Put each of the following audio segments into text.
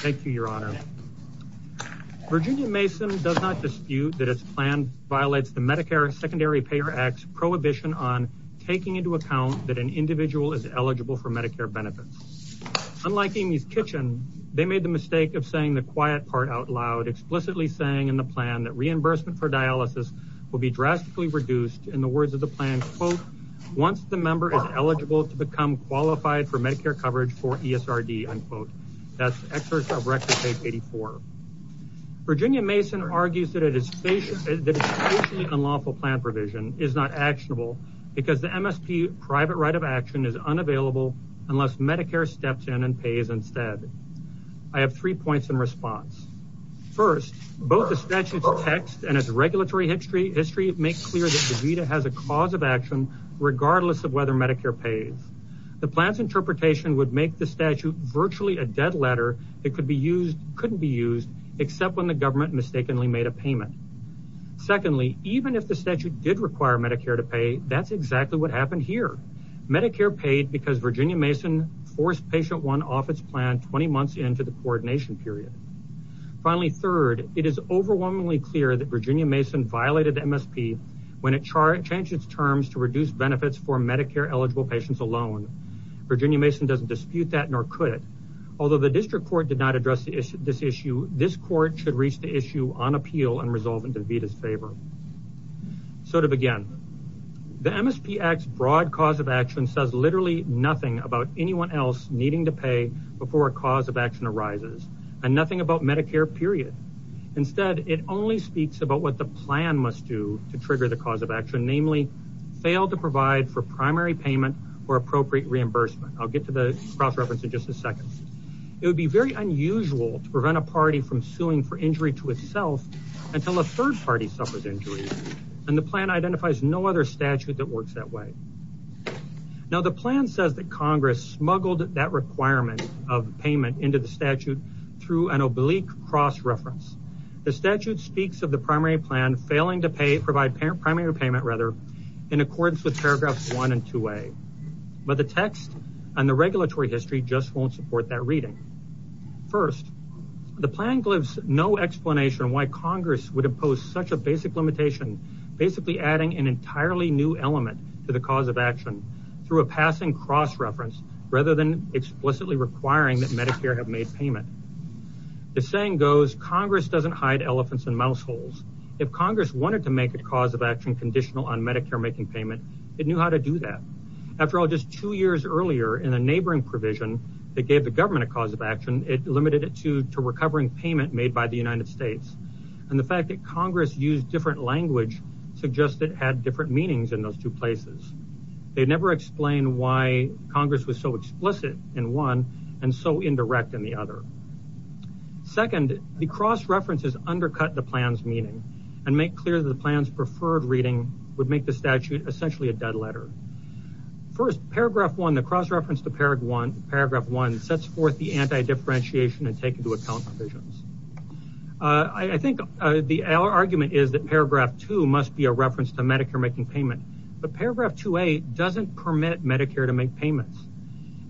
Thank you, your honor. Virginia Mason does not dispute that its plan violates the Medicare Secondary Payer Act's prohibition on taking into account that an individual is eligible for Medicare benefits. Unlike Amy's Kitchen, they made the mistake of saying the quiet part out loud, explicitly saying in the plan that reimbursement for dialysis will be drastically reduced in the words of the plan, quote, once the member is eligible to become qualified for Medicare coverage for ESRD, unquote. That's excerpt of record page 84. Virginia Mason argues that it is unlawful plan provision is not actionable because the MSP private right of action is unavailable unless Medicare steps in and pays instead. I have three points in response. First, both the statute's text and its regulatory history history make clear that DaVita has a cause of action regardless of whether Medicare pays. The plan's interpretation would make the statute virtually a dead letter that could be used, couldn't be used, except when the government mistakenly made a payment. Secondly, even if the statute did require Medicare to pay, that's exactly what happened here. Medicare paid because Virginia Mason forced patient one off its plan 20 months into the coordination period. Finally, third, it is overwhelmingly clear that Virginia Mason violated the MSP when it changed its terms to reduce benefits for Medicare eligible patients alone. Virginia Mason doesn't dispute that nor could it. Although the district court did not address this issue, this court should reach the issue on appeal and resolve in DaVita's favor. So to begin, the MSP Act's broad cause of action says literally nothing about anyone else needing to pay before a cause of action arises and nothing about Medicare, period. Instead, it only speaks about what the plan must do to trigger the cause of action, namely fail to provide for primary payment or appropriate reimbursement. I'll get to the cross-reference in just a second. It would be very unusual to prevent a party from suing for injury to itself until a third party suffers injury and the plan identifies no other statute that works that way. Now the plan says that Congress smuggled that requirement of payment into the statute through an oblique cross-reference. The statute speaks of the primary plan failing to provide primary payment in accordance with paragraphs 1 and 2a, but the text and the regulatory history just won't support that reading. First, the plan gives no explanation why Congress would impose such a basic limitation, basically adding an entirely new element to the cause of action through a passing cross-reference rather than explicitly requiring that Medicare have made payment. The saying goes Congress doesn't hide elephants in mouse holes. If Congress wanted to make a cause of action conditional on Medicare making payment, it knew how to do that. After all, just two years earlier in a neighboring provision that gave the government a cause of action, it limited it to recovering payment made by the United States and the fact that Congress used different language suggested it had different meanings in those two places. They never explained why Congress was so explicit in one and so indirect in the other. Second, the cross-references undercut the plan's meaning and make clear that the plan's preferred reading would make the statute essentially a dead letter. First, paragraph 1, the cross-reference to paragraph 1 sets forth the anti-differentiation and take into account provisions. I think the argument is that paragraph 2 must be a reference to Medicare making payment, but paragraph 2A doesn't permit Medicare to make payments.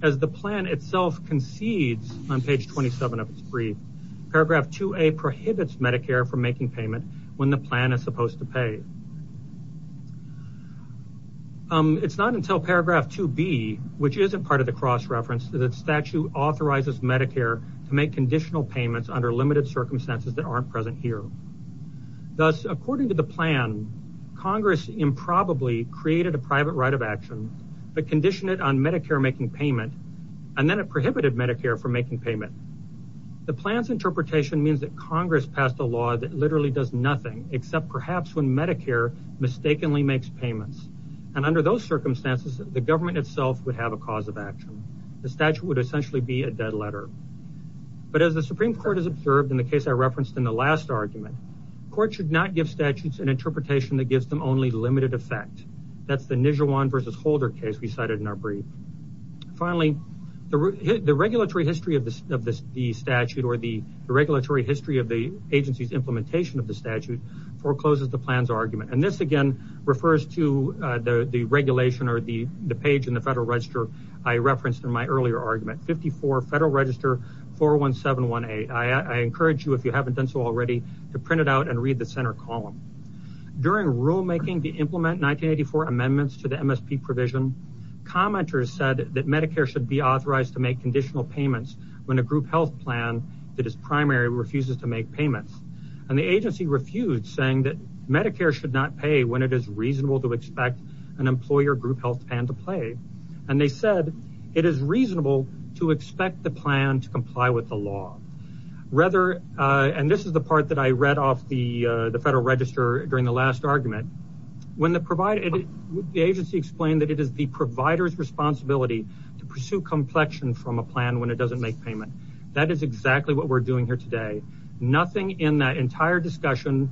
As the plan itself concedes on page 27 of its brief, paragraph 2A prohibits Medicare from making payment when the plan is supposed to pay. It's not until paragraph 2B, which isn't part of the cross-reference, the statute authorizes Medicare to make conditional payments under limited circumstances that aren't present here. Thus, according to the plan, Congress improbably created a private right of action but conditioned it on Medicare making payment and then it prohibited Medicare from making payment. The plan's interpretation means that Congress passed a law that literally does nothing except perhaps when Medicare mistakenly makes payments and under those the statute would essentially be a dead letter. But as the Supreme Court has observed in the case I referenced in the last argument, courts should not give statutes an interpretation that gives them only limited effect. That's the Nijewan v. Holder case we cited in our brief. Finally, the regulatory history of the statute or the regulatory history of the agency's implementation of the statute forecloses the plan's argument. And this again refers to the regulation or the argument 54 Federal Register 41718. I encourage you if you haven't done so already to print it out and read the center column. During rulemaking to implement 1984 amendments to the MSP provision, commenters said that Medicare should be authorized to make conditional payments when a group health plan that is primary refuses to make payments. And the agency refused saying that Medicare should not pay when it is reasonable to expect an employer group health plan to play. And they said it is reasonable to expect the plan to comply with the law. Rather, and this is the part that I read off the Federal Register during the last argument, when the agency explained that it is the provider's responsibility to pursue complexion from a plan when it doesn't make payment. That is exactly what we're doing here today. Nothing in that entire discussion,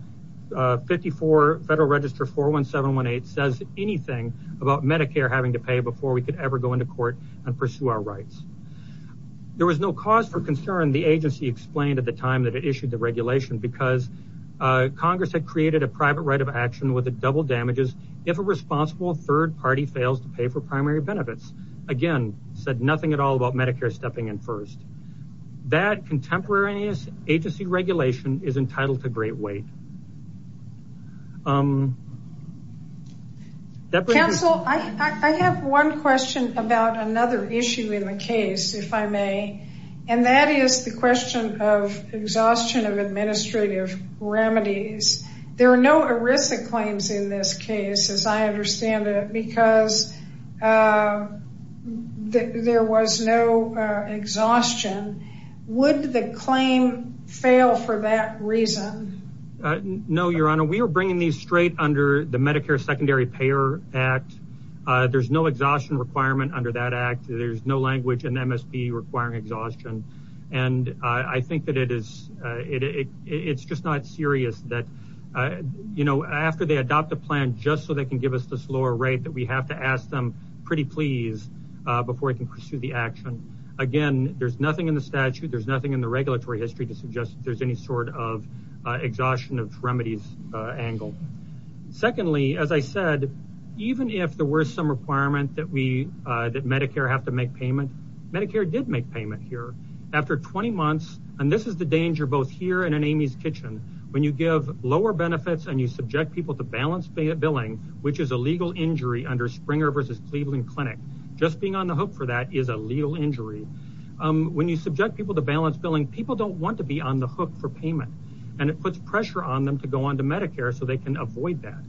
54 Federal Register 41718 says anything about Medicare having to pay before we could ever go into court and pursue our rights. There was no cause for concern, the agency explained at the time that it issued the regulation, because Congress had created a private right of action with double damages if a responsible third party fails to pay for primary benefits. Again, said nothing at all about Medicare stepping in first. That contemporary agency regulation is entitled to great weight. I have one question about another issue in the case, if I may. And that is the question of exhaustion of administrative remedies. There are no ERISA claims in this case, as I understand it, because there was no exhaustion. Would the claim fail for that reason? No, Your Honor, we are bringing these straight under the Medicare Secondary Payer Act. There's no exhaustion requirement under that act. There's no language in MSP requiring exhaustion. And I think that it is, it's just not serious that, you know, after they adopt a plan, just so they can give us this lower rate that we have to ask them pretty please, before we can pursue the action. Again, there's nothing in the statute, there's nothing in the regulatory history to suggest there's any sort of exhaustion of remedies angle. Secondly, as I said, even if there were some requirement that we, that Medicare have to make payment, Medicare did make payment here. After 20 months, and this is the danger both here and in Amy's Kitchen, when you give lower benefits and you subject people to balanced billing, which is a legal injury under Springer versus Cleveland Clinic, just being on the hook for that is a legal injury. When you subject people to balanced billing, people don't want to be on the hook for payment. And it puts pressure on them to go on to Medicare so they can avoid that.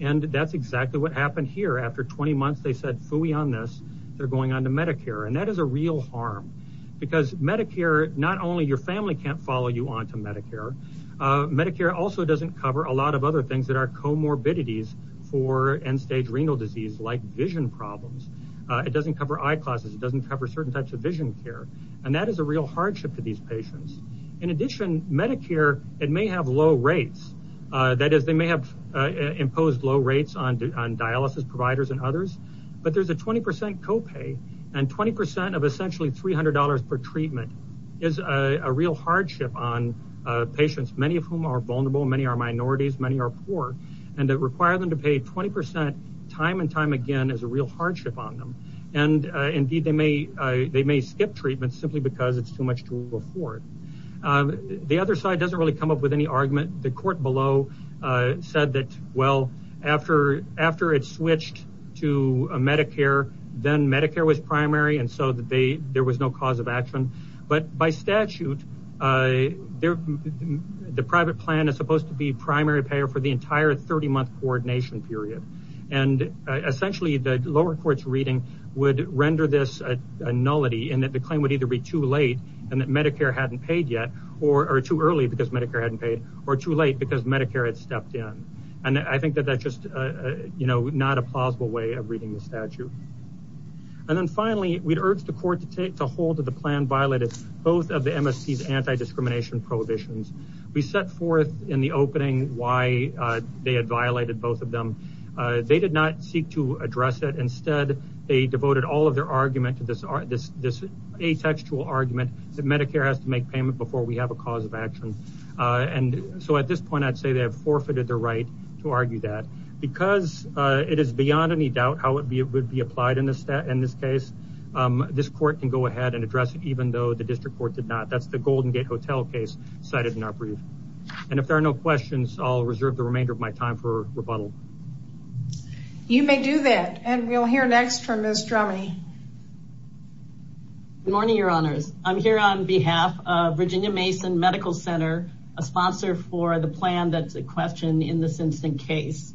And that's exactly what happened here. After 20 months, they said, phooey on this, they're going on to Medicare. And that is a real harm. Because Medicare, not only your family can't follow you on to Medicare, Medicare also doesn't cover a lot of other things that are comorbidities for end-stage renal disease, like vision problems. It doesn't cover eye classes, it doesn't cover certain types of vision care. And that is a real hardship for these patients. In addition, Medicare, it may have low rates. That is, they may have imposed low rates on dialysis providers and others. But there's a 20% copay, and 20% of essentially $300 per treatment is a real hardship on patients, many of whom are vulnerable, many are minorities, many are poor. And to require them to pay 20% time and time again is a real hardship on them. And indeed, they may skip treatment simply because it's too much to afford. The other side doesn't really come up with any argument. The court below said that, well, after it switched to Medicare, then Medicare was primary, and so there was no cause of action. But by statute, the private plan is supposed to be primary payer for the entire 30-month coordination period. And essentially, the lower court's reading would render this a nullity, and that the claim would either be too late, and that Medicare hadn't paid yet, or too early because Medicare hadn't paid, or too late because Medicare had stepped in. And I think that that's just not a plausible way of reading the statute. And then finally, we'd urge the court to hold that the plan violated both of the MSP's anti-discrimination prohibitions. We set forth in the opening why they had violated both of them. They did not seek to address it. Instead, they devoted all of their argument to this atextual argument that Medicare has to make payment before we have a cause of action. And so at this point, I'd say they have forfeited their right to argue that. Because it is beyond any doubt how it would be applied in this case, this court can go ahead and address it, even though the district court did not. That's the Golden Gate Hotel case cited in our brief. And if there are no questions, I'll reserve the remainder of my time for rebuttal. You may do that. And we'll hear next from Ms. Drummey. Good morning, your honors. I'm here on behalf of Virginia Mason Medical Center, a sponsor for the plan that's a question in this instant case.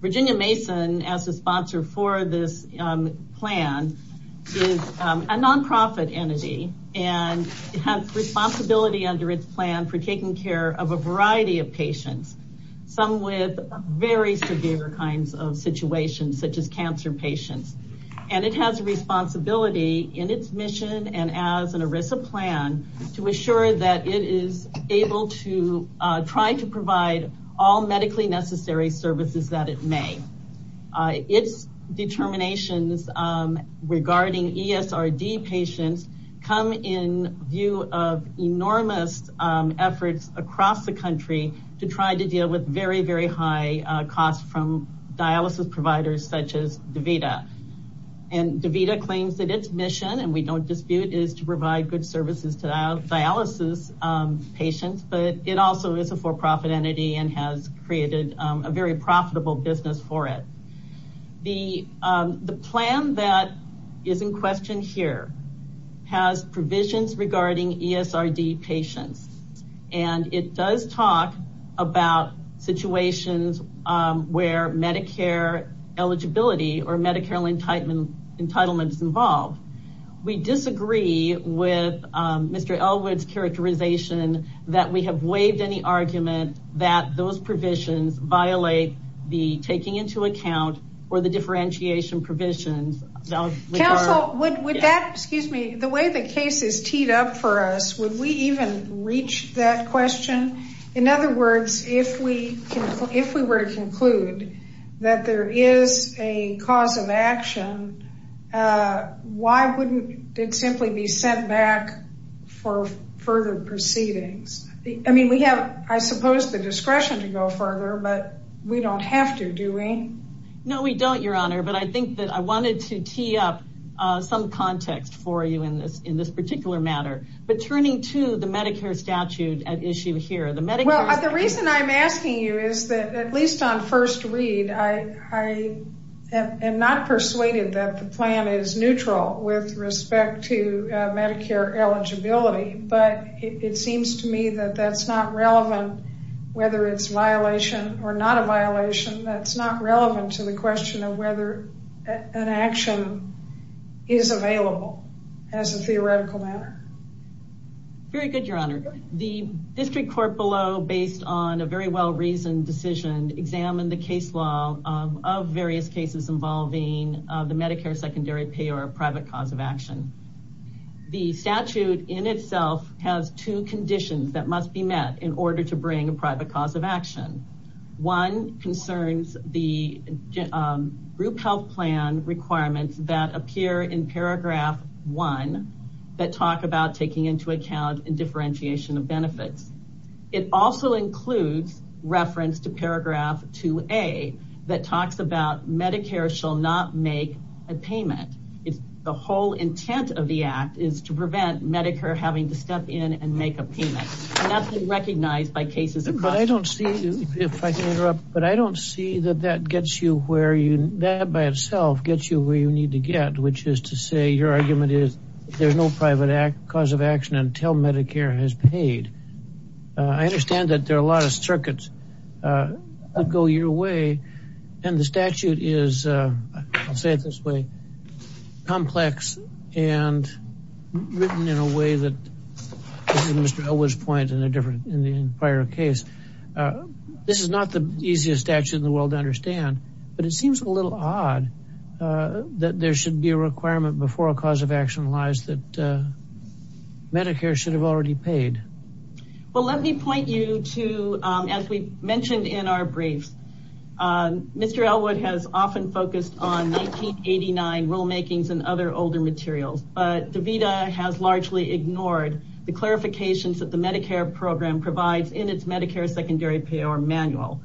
Virginia Mason, as a sponsor for this plan, is a nonprofit entity. And it has responsibility under its plan for taking care of a variety of patients. Some with very severe kinds of situations, such as cancer patients. And it has a responsibility in its mission and as an ERISA plan to assure that it is able to try to regarding ESRD patients come in view of enormous efforts across the country to try to deal with very, very high costs from dialysis providers such as DaVita. And DaVita claims that its mission, and we don't dispute, is to provide good services to dialysis patients. But it also is a for-profit entity and has created a very profitable business for it. The plan that is in question here has provisions regarding ESRD patients. And it does talk about situations where Medicare eligibility or Medicare entitlement is involved. We disagree with Mr. Elwood's characterization that we have waived any argument that those provisions violate the taking into account or the differentiation provisions. Council, the way the case is teed up for us, would we even reach that question? In other words, if we were to conclude that there is a cause of action, why wouldn't it simply be sent back for further proceedings? I mean, we have, I suppose, the discretion to go further, but we don't have to, do we? No, we don't, Your Honor. But I think that I wanted to tee up some context for you in this particular matter. But turning to the Medicare statute at issue here, the reason I'm asking you is that at least on first read, I am not persuaded that the plan is neutral with respect to Medicare eligibility. But it seems to me that that's not relevant, whether it's a violation or not a violation. That's not relevant to the question of whether an action is available as a theoretical matter. Very good, Your Honor. The district court below, based on a very well-reasoned decision, examined the case law of various cases involving the Medicare secondary pay or a private cause of action. The statute in itself has two conditions that must be met in order to bring a private cause of action. One concerns the group health plan requirements that appear in paragraph one that talk about taking into account and differentiation of benefits. It also includes reference to paragraph 2A that talks about Medicare shall not make a payment. The whole intent of the act is to prevent Medicare having to step in and make a payment. And that's been recognized by cases across the country. But I don't see, if I can interrupt, but I don't see that that gets you where you, that by itself gets you where you need to get, which is to say your argument is there's no private cause of action until Medicare has paid. I understand that there are a lot of circuits that go your way. And the statute is, I'll say it this way, complex and written in a way that, to Mr. Elwood's point in the prior case, this is not the easiest statute in the world to understand. But it seems a little odd that there should be a requirement before a cause of action lies that well, let me point you to, as we mentioned in our briefs, Mr. Elwood has often focused on 1989 rulemakings and other older materials, but the VEDA has largely ignored the clarifications that the Medicare program provides in its Medicare secondary payor manual.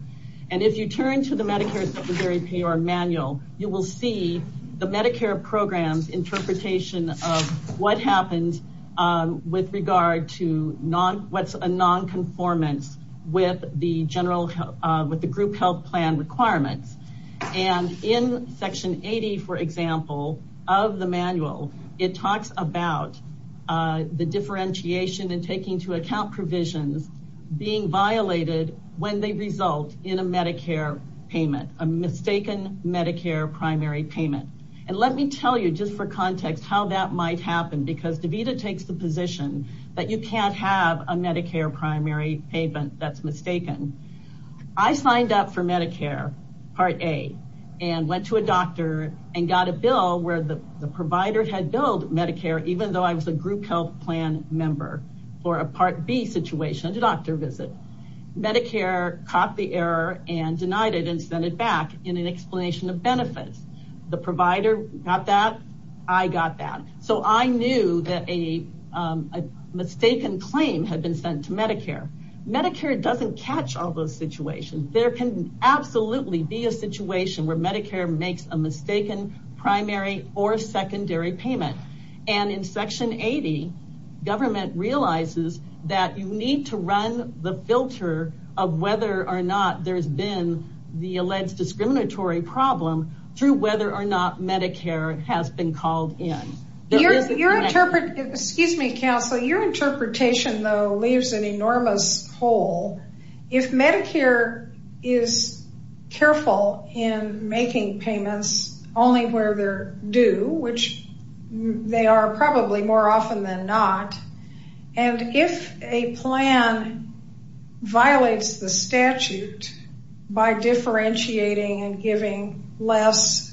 And if you turn to the Medicare secondary payor manual, you will see the Medicare program's interpretation of what happened with regard to what's a non-conformance with the group health plan requirements. And in section 80, for example, of the manual, it talks about the differentiation and taking into account provisions being violated when they result in a Medicare payment, a mistaken Medicare primary payment. And let me tell you, just for context, how that might happen, because the VEDA takes the position that you can't have a Medicare primary payment that's mistaken. I signed up for Medicare, part A, and went to a doctor and got a bill where the provider had billed Medicare, even though I was a group health plan member, for a part B situation, a doctor visit. Medicare caught the error and denied it and sent it back in an explanation of benefits. The provider got that, I got that. So I knew that a mistaken claim had been sent to Medicare. Medicare doesn't catch all those situations. There can absolutely be a situation where Medicare makes a mistaken primary or secondary payment. And in section 80, government realizes that you need to run the filter of whether or not there's been the alleged discriminatory problem through whether or not Medicare has been called in. You're interpreting, excuse me, counsel, your interpretation, though, leaves an enormous hole. If Medicare is careful in making payments only where they're due, which they are probably more often than not, and if a plan violates the statute by differentiating and giving less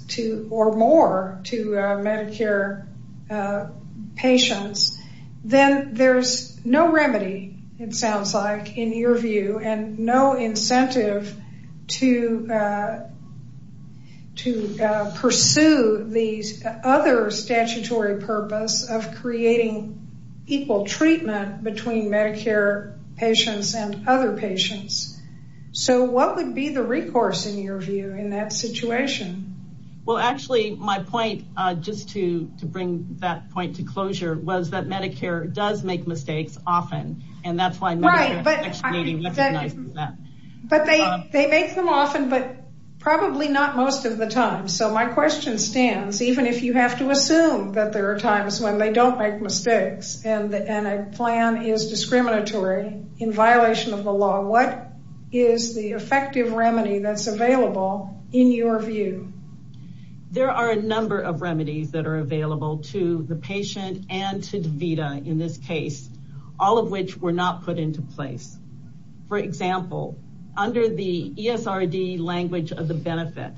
or more to Medicare patients, then there's no remedy, it sounds like, in your view, and no incentive to pursue the other statutory purpose of creating equal treatment between Medicare patients and other patients. So what would be the recourse, in your view, in that situation? Well, actually, my point, just to bring that point to closure, was that Medicare does make But they make them often, but probably not most of the time. So my question stands, even if you have to assume that there are times when they don't make mistakes, and a plan is discriminatory in violation of the law, what is the effective remedy that's available in your view? There are a number of remedies that are available to the patient and to the place. For example, under the ESRD language of the benefit,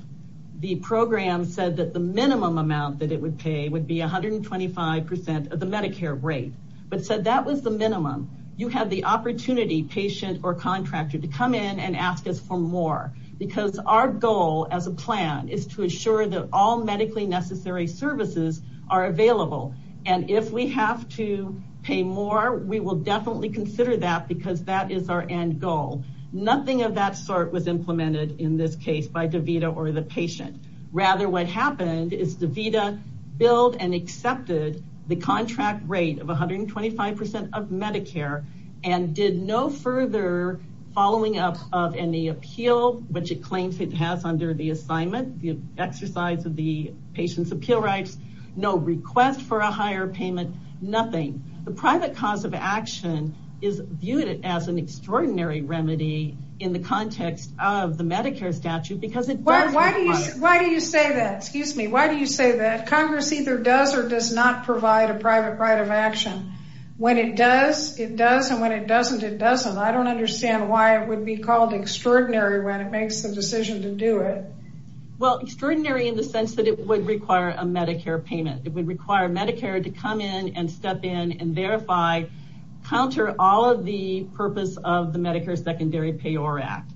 the program said that the minimum amount that it would pay would be 125% of the Medicare rate, but said that was the minimum. You have the opportunity, patient or contractor, to come in and ask us for more, because our goal as a plan is to assure that all medically necessary services are available, and if we have to pay more, we will definitely consider that, because that is our end goal. Nothing of that sort was implemented in this case by DaVita or the patient. Rather, what happened is DaVita billed and accepted the contract rate of 125% of Medicare, and did no further following up of any appeal, which it claims it has under the assignment, the exercise of the patient's appeal rights, no request for a higher payment, nothing. The private cause of action is viewed as an extraordinary remedy in the context of the Medicare statute, because it does require it. Why do you say that? Congress either does or does not provide a private right of action. When it does, it does, and when it doesn't, it doesn't. I don't understand why it would be called extraordinary when it makes the decision to do it. Well, extraordinary in the sense that it would require a Medicare payment. It would require Medicare to come in and step in and verify, counter all of the purpose of the Medicare Secondary Payor Act,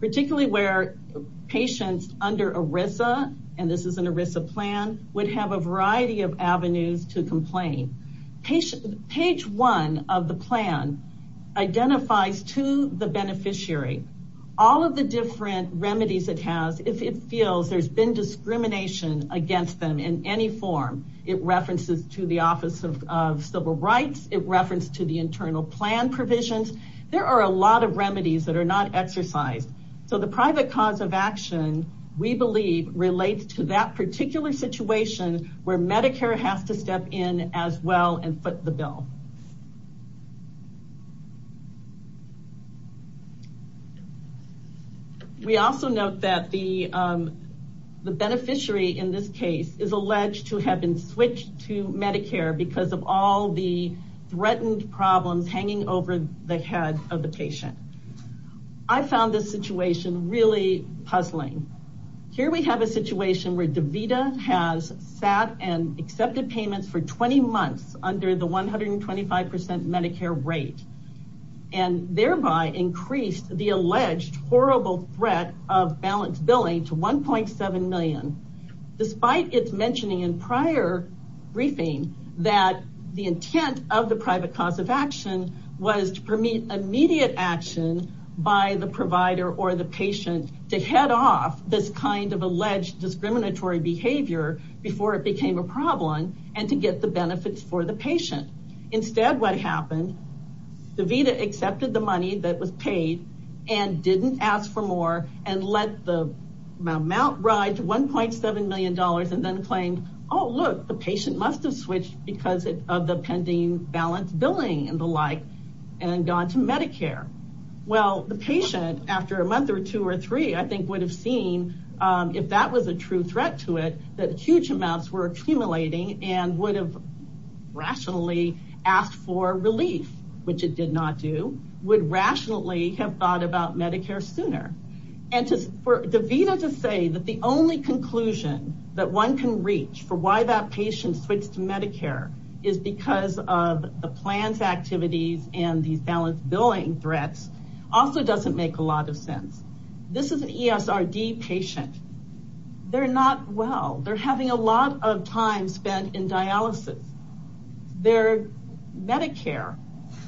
particularly where patients under ERISA, and this is an ERISA plan, would have a variety of avenues to complain. Page one of the plan identifies to the beneficiary all of the different remedies it feels there's been discrimination against them in any form. It references to the Office of Civil Rights. It referenced to the internal plan provisions. There are a lot of remedies that are not exercised. So the private cause of action, we believe, relates to that particular situation where Medicare has to step in as well and foot the bill. Page two of the plan. We also note that the beneficiary in this case is alleged to have been switched to Medicare because of all the threatened problems hanging over the head of the patient. I found this situation really puzzling. Here we have a situation where DeVita has sat and accepted payments for 20 percent Medicare rate and thereby increased the alleged horrible threat of balance billing to 1.7 million, despite its mentioning in prior briefing that the intent of the private cause of action was to permit immediate action by the provider or the patient to head off this kind of alleged discriminatory behavior before it became a problem and to get the benefits for the patient. Instead, what happened, DeVita accepted the money that was paid and didn't ask for more and let the amount ride to $1.7 million and then claimed, oh, look, the patient must have switched because of the pending balance billing and the like and gone to Medicare. Well, the patient, after a month or two or three, I think would have seen, if that was a true threat to it, that huge amounts were accumulating and would have rationally asked for relief, which it did not do, would rationally have thought about Medicare sooner. And for DeVita to say that the only conclusion that one can reach for why that patient switched to Medicare is because of the plans, activities, and these balance billing threats also doesn't make a lot of sense. This is an ESRD patient. They're not well. They're having a lot of time spent in dialysis. They're Medicare,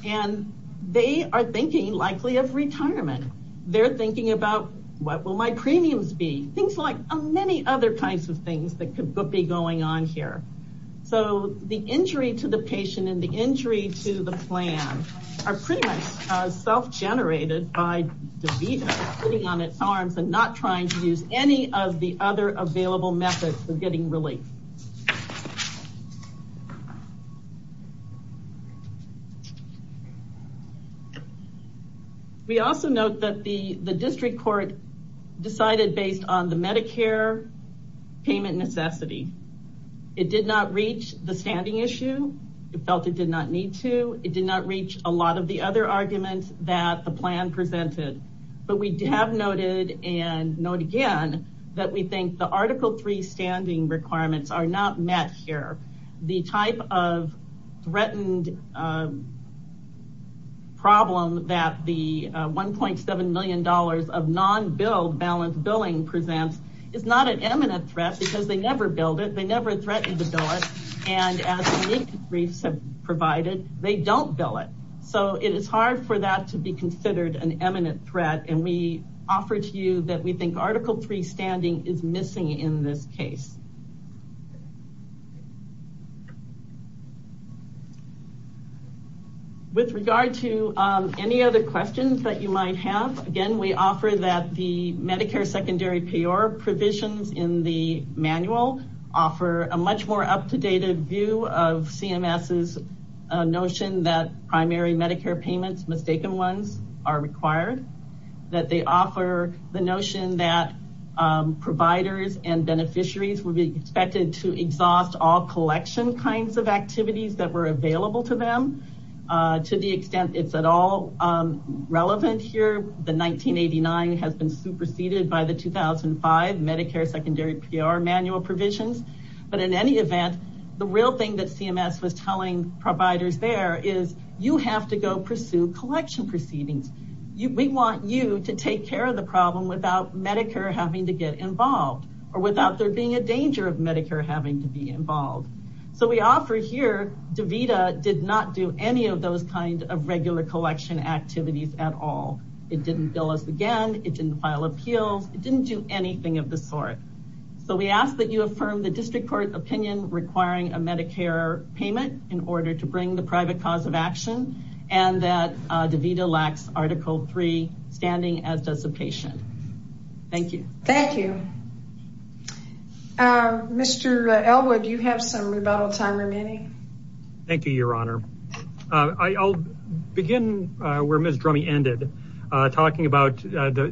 and they are thinking likely of retirement. They're thinking about, what will my premiums be? Things like many other kinds of things that could be going on here. So the injury to the patient and the injury to the plan are pretty much self-generated by working on its arms and not trying to use any of the other available methods of getting relief. We also note that the district court decided based on the Medicare payment necessity. It did not reach the standing issue. It felt it did not need to. It did not reach a lot of the other presented. But we have noted and note again that we think the Article 3 standing requirements are not met here. The type of threatened problem that the $1.7 million of non-billed balance billing presents is not an imminent threat because they never billed it. They never threatened to bill it. And as unique briefs have provided, they don't bill it. So it is hard for that to be considered an imminent threat. And we offer to you that we think Article 3 standing is missing in this case. With regard to any other questions that you might have, again, we offer that the Medicare secondary payor provisions in the manual offer a much more up-to-date view of CMS's notion that that they offer the notion that providers and beneficiaries would be expected to exhaust all collection kinds of activities that were available to them. To the extent it is at all relevant here, the 1989 has been superseded by the 2005 Medicare secondary payor manual provisions. But in any event, the real thing that CMS was telling providers there is you have to go pursue collection proceedings. We want you to take care of the problem without Medicare having to get involved or without there being a danger of Medicare having to be involved. So we offer here DVTA did not do any of those kinds of regular collection activities at all. It didn't bill us again. It didn't file appeals. It didn't do anything of the sort. So we ask that you affirm the district court opinion requiring a Medicare payment in order to bring the private cause of DVTA LAX article 3 standing as dissipation. Thank you. Thank you. Mr. Elwood, you have some rebuttal time remaining. Thank you, Your Honor. I'll begin where Ms. Drummey ended, talking about the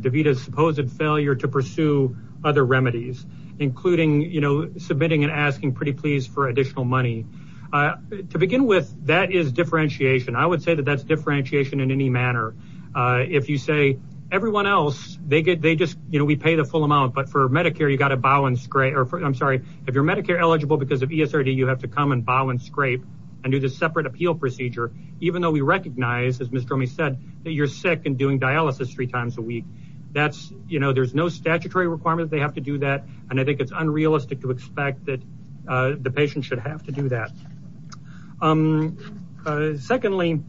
DVTA's supposed failure to pursue other remedies, including submitting and asking pretty please for additional money. To begin with, that is differentiation. I say that is differentiation in any manner. If you say everyone else, we pay the full amount, but for Medicare, you have to bow and scrape. If you are Medicare eligible because of ESRD, you have to come and bow and scrape and do the separate appeal procedure, even though we recognize, as Ms. Drummey said, you are sick and doing dialysis three times a week. There is no statutory requirement they have to do that. I think it is unrealistic to expect that the patient should have to do that. Secondly,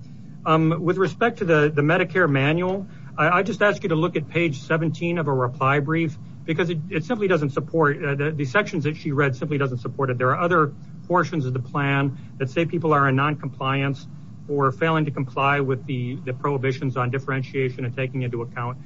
with respect to the Medicare manual, I ask you to look at page 17 of a reply brief. The sections that she read simply do not support it. There are other portions of the plan that say people are in noncompliance or failing to comply with the prohibitions on differentiation and taking into account.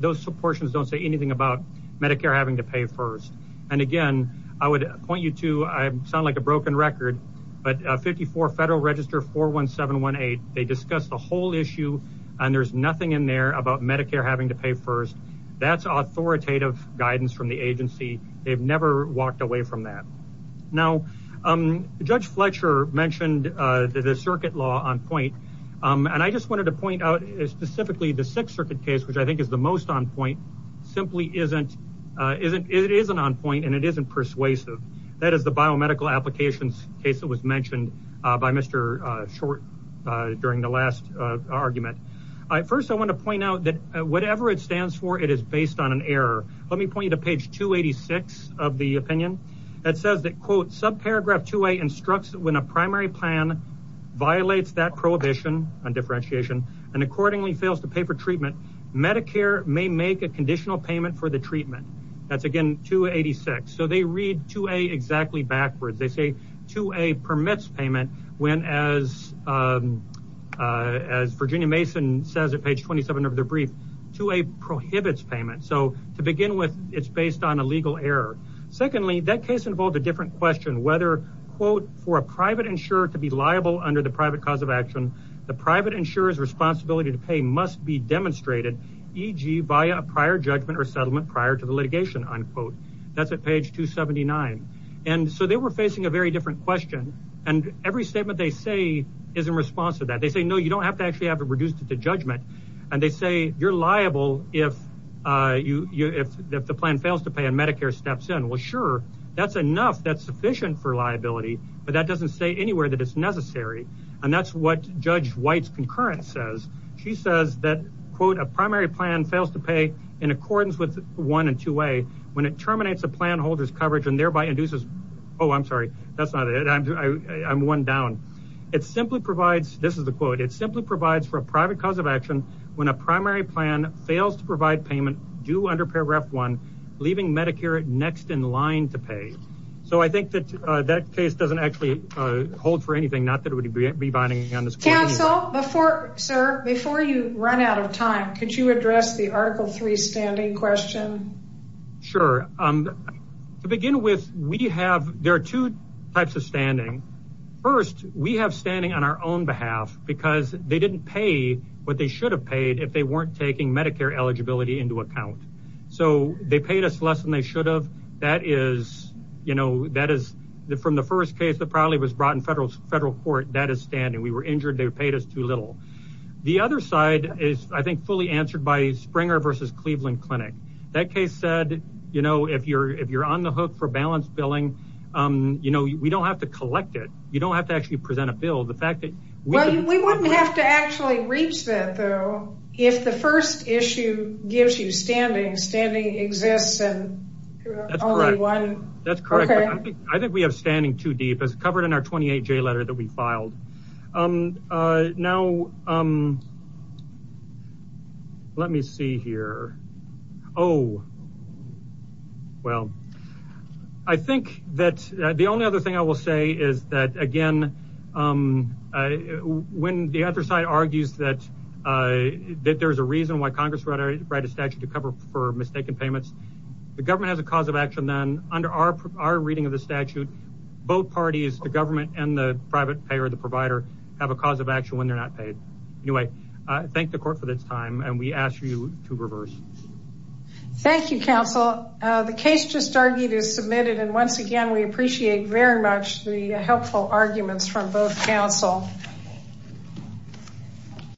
Those portions do not say anything about Medicare having to pay first. Again, I would point you to, I sound like a broken record, but 54 Federal Register 41718. They discuss the whole issue and there is nothing in there about Medicare having to pay first. That is authoritative guidance from the agency. They have never walked away from that. Now, Judge Fletcher mentioned the circuit law on point. I just wanted to point out specifically the Sixth Circuit case, which I think is the most on point, simply is not on point and is not persuasive. That is the biomedical applications case that was mentioned by Mr. Short during the last argument. First, I want to point out that whatever it stands for, it is based on an error. Let me point you to page 286 of the opinion that says that, quote, subparagraph 2A instructs when primary plan violates that prohibition on differentiation and accordingly fails to pay for treatment, Medicare may make a conditional payment for the treatment. That is, again, 286. They read 2A exactly backwards. They say 2A permits payment when, as Virginia Mason says at page 27 of the brief, 2A prohibits payment. To begin with, it is based on a legal error. Secondly, that case involved a different question whether, quote, for a private insurer to be liable under the private cause of action, the private insurer's responsibility to pay must be demonstrated, e.g., via a prior judgment or settlement prior to the litigation, unquote. That is at page 279. They were facing a very different question. Every statement they say is in response to that. They say, no, you don't have to actually have to reduce it to judgment. They say, you are liable if the primary plan fails to pay and Medicare steps in. Sure, that is enough, that is sufficient for liability, but that doesn't say anywhere that it is necessary. That is what Judge White's concurrent says. She says that, quote, a primary plan fails to pay in accordance with 1 and 2A when it terminates a plan holder's coverage and thereby induces, oh, I'm sorry, that's not it. I'm one down. It simply provides, this is the quote, it simply provides for a private cause of action when a primary plan fails to provide payment due under paragraph 1, leaving Medicare next in line to pay. So I think that that case doesn't actually hold for anything, not that it would be binding on this case. Counsel, before, sir, before you run out of time, could you address the Article III standing question? Sure. To begin with, we have, there are two types of standing. First, we have what they should have paid if they weren't taking Medicare eligibility into account. So they paid us less than they should have. That is, you know, that is from the first case that probably was brought in federal court, that is standing. We were injured. They paid us too little. The other side is, I think, fully answered by Springer v. Cleveland Clinic. That case said, you know, if you're on the hook for balanced billing, you know, we don't have to collect it. You don't have to actually present a bill. Well, we wouldn't have to actually reach that, though. If the first issue gives you standing, standing exists and only one. That's correct. I think we have standing too deep. It's covered in our 28-J letter that we filed. Now, let me see here. Oh, well, I think that the only other thing I will say is that, again, when the other side argues that there's a reason why Congress wrote a statute to cover for mistaken payments, the government has a cause of action then. Under our reading of the statute, both I thank the court for this time, and we ask you to reverse. Thank you, counsel. The case just argued is submitted, and once again, we appreciate very much the helpful arguments from both counsel.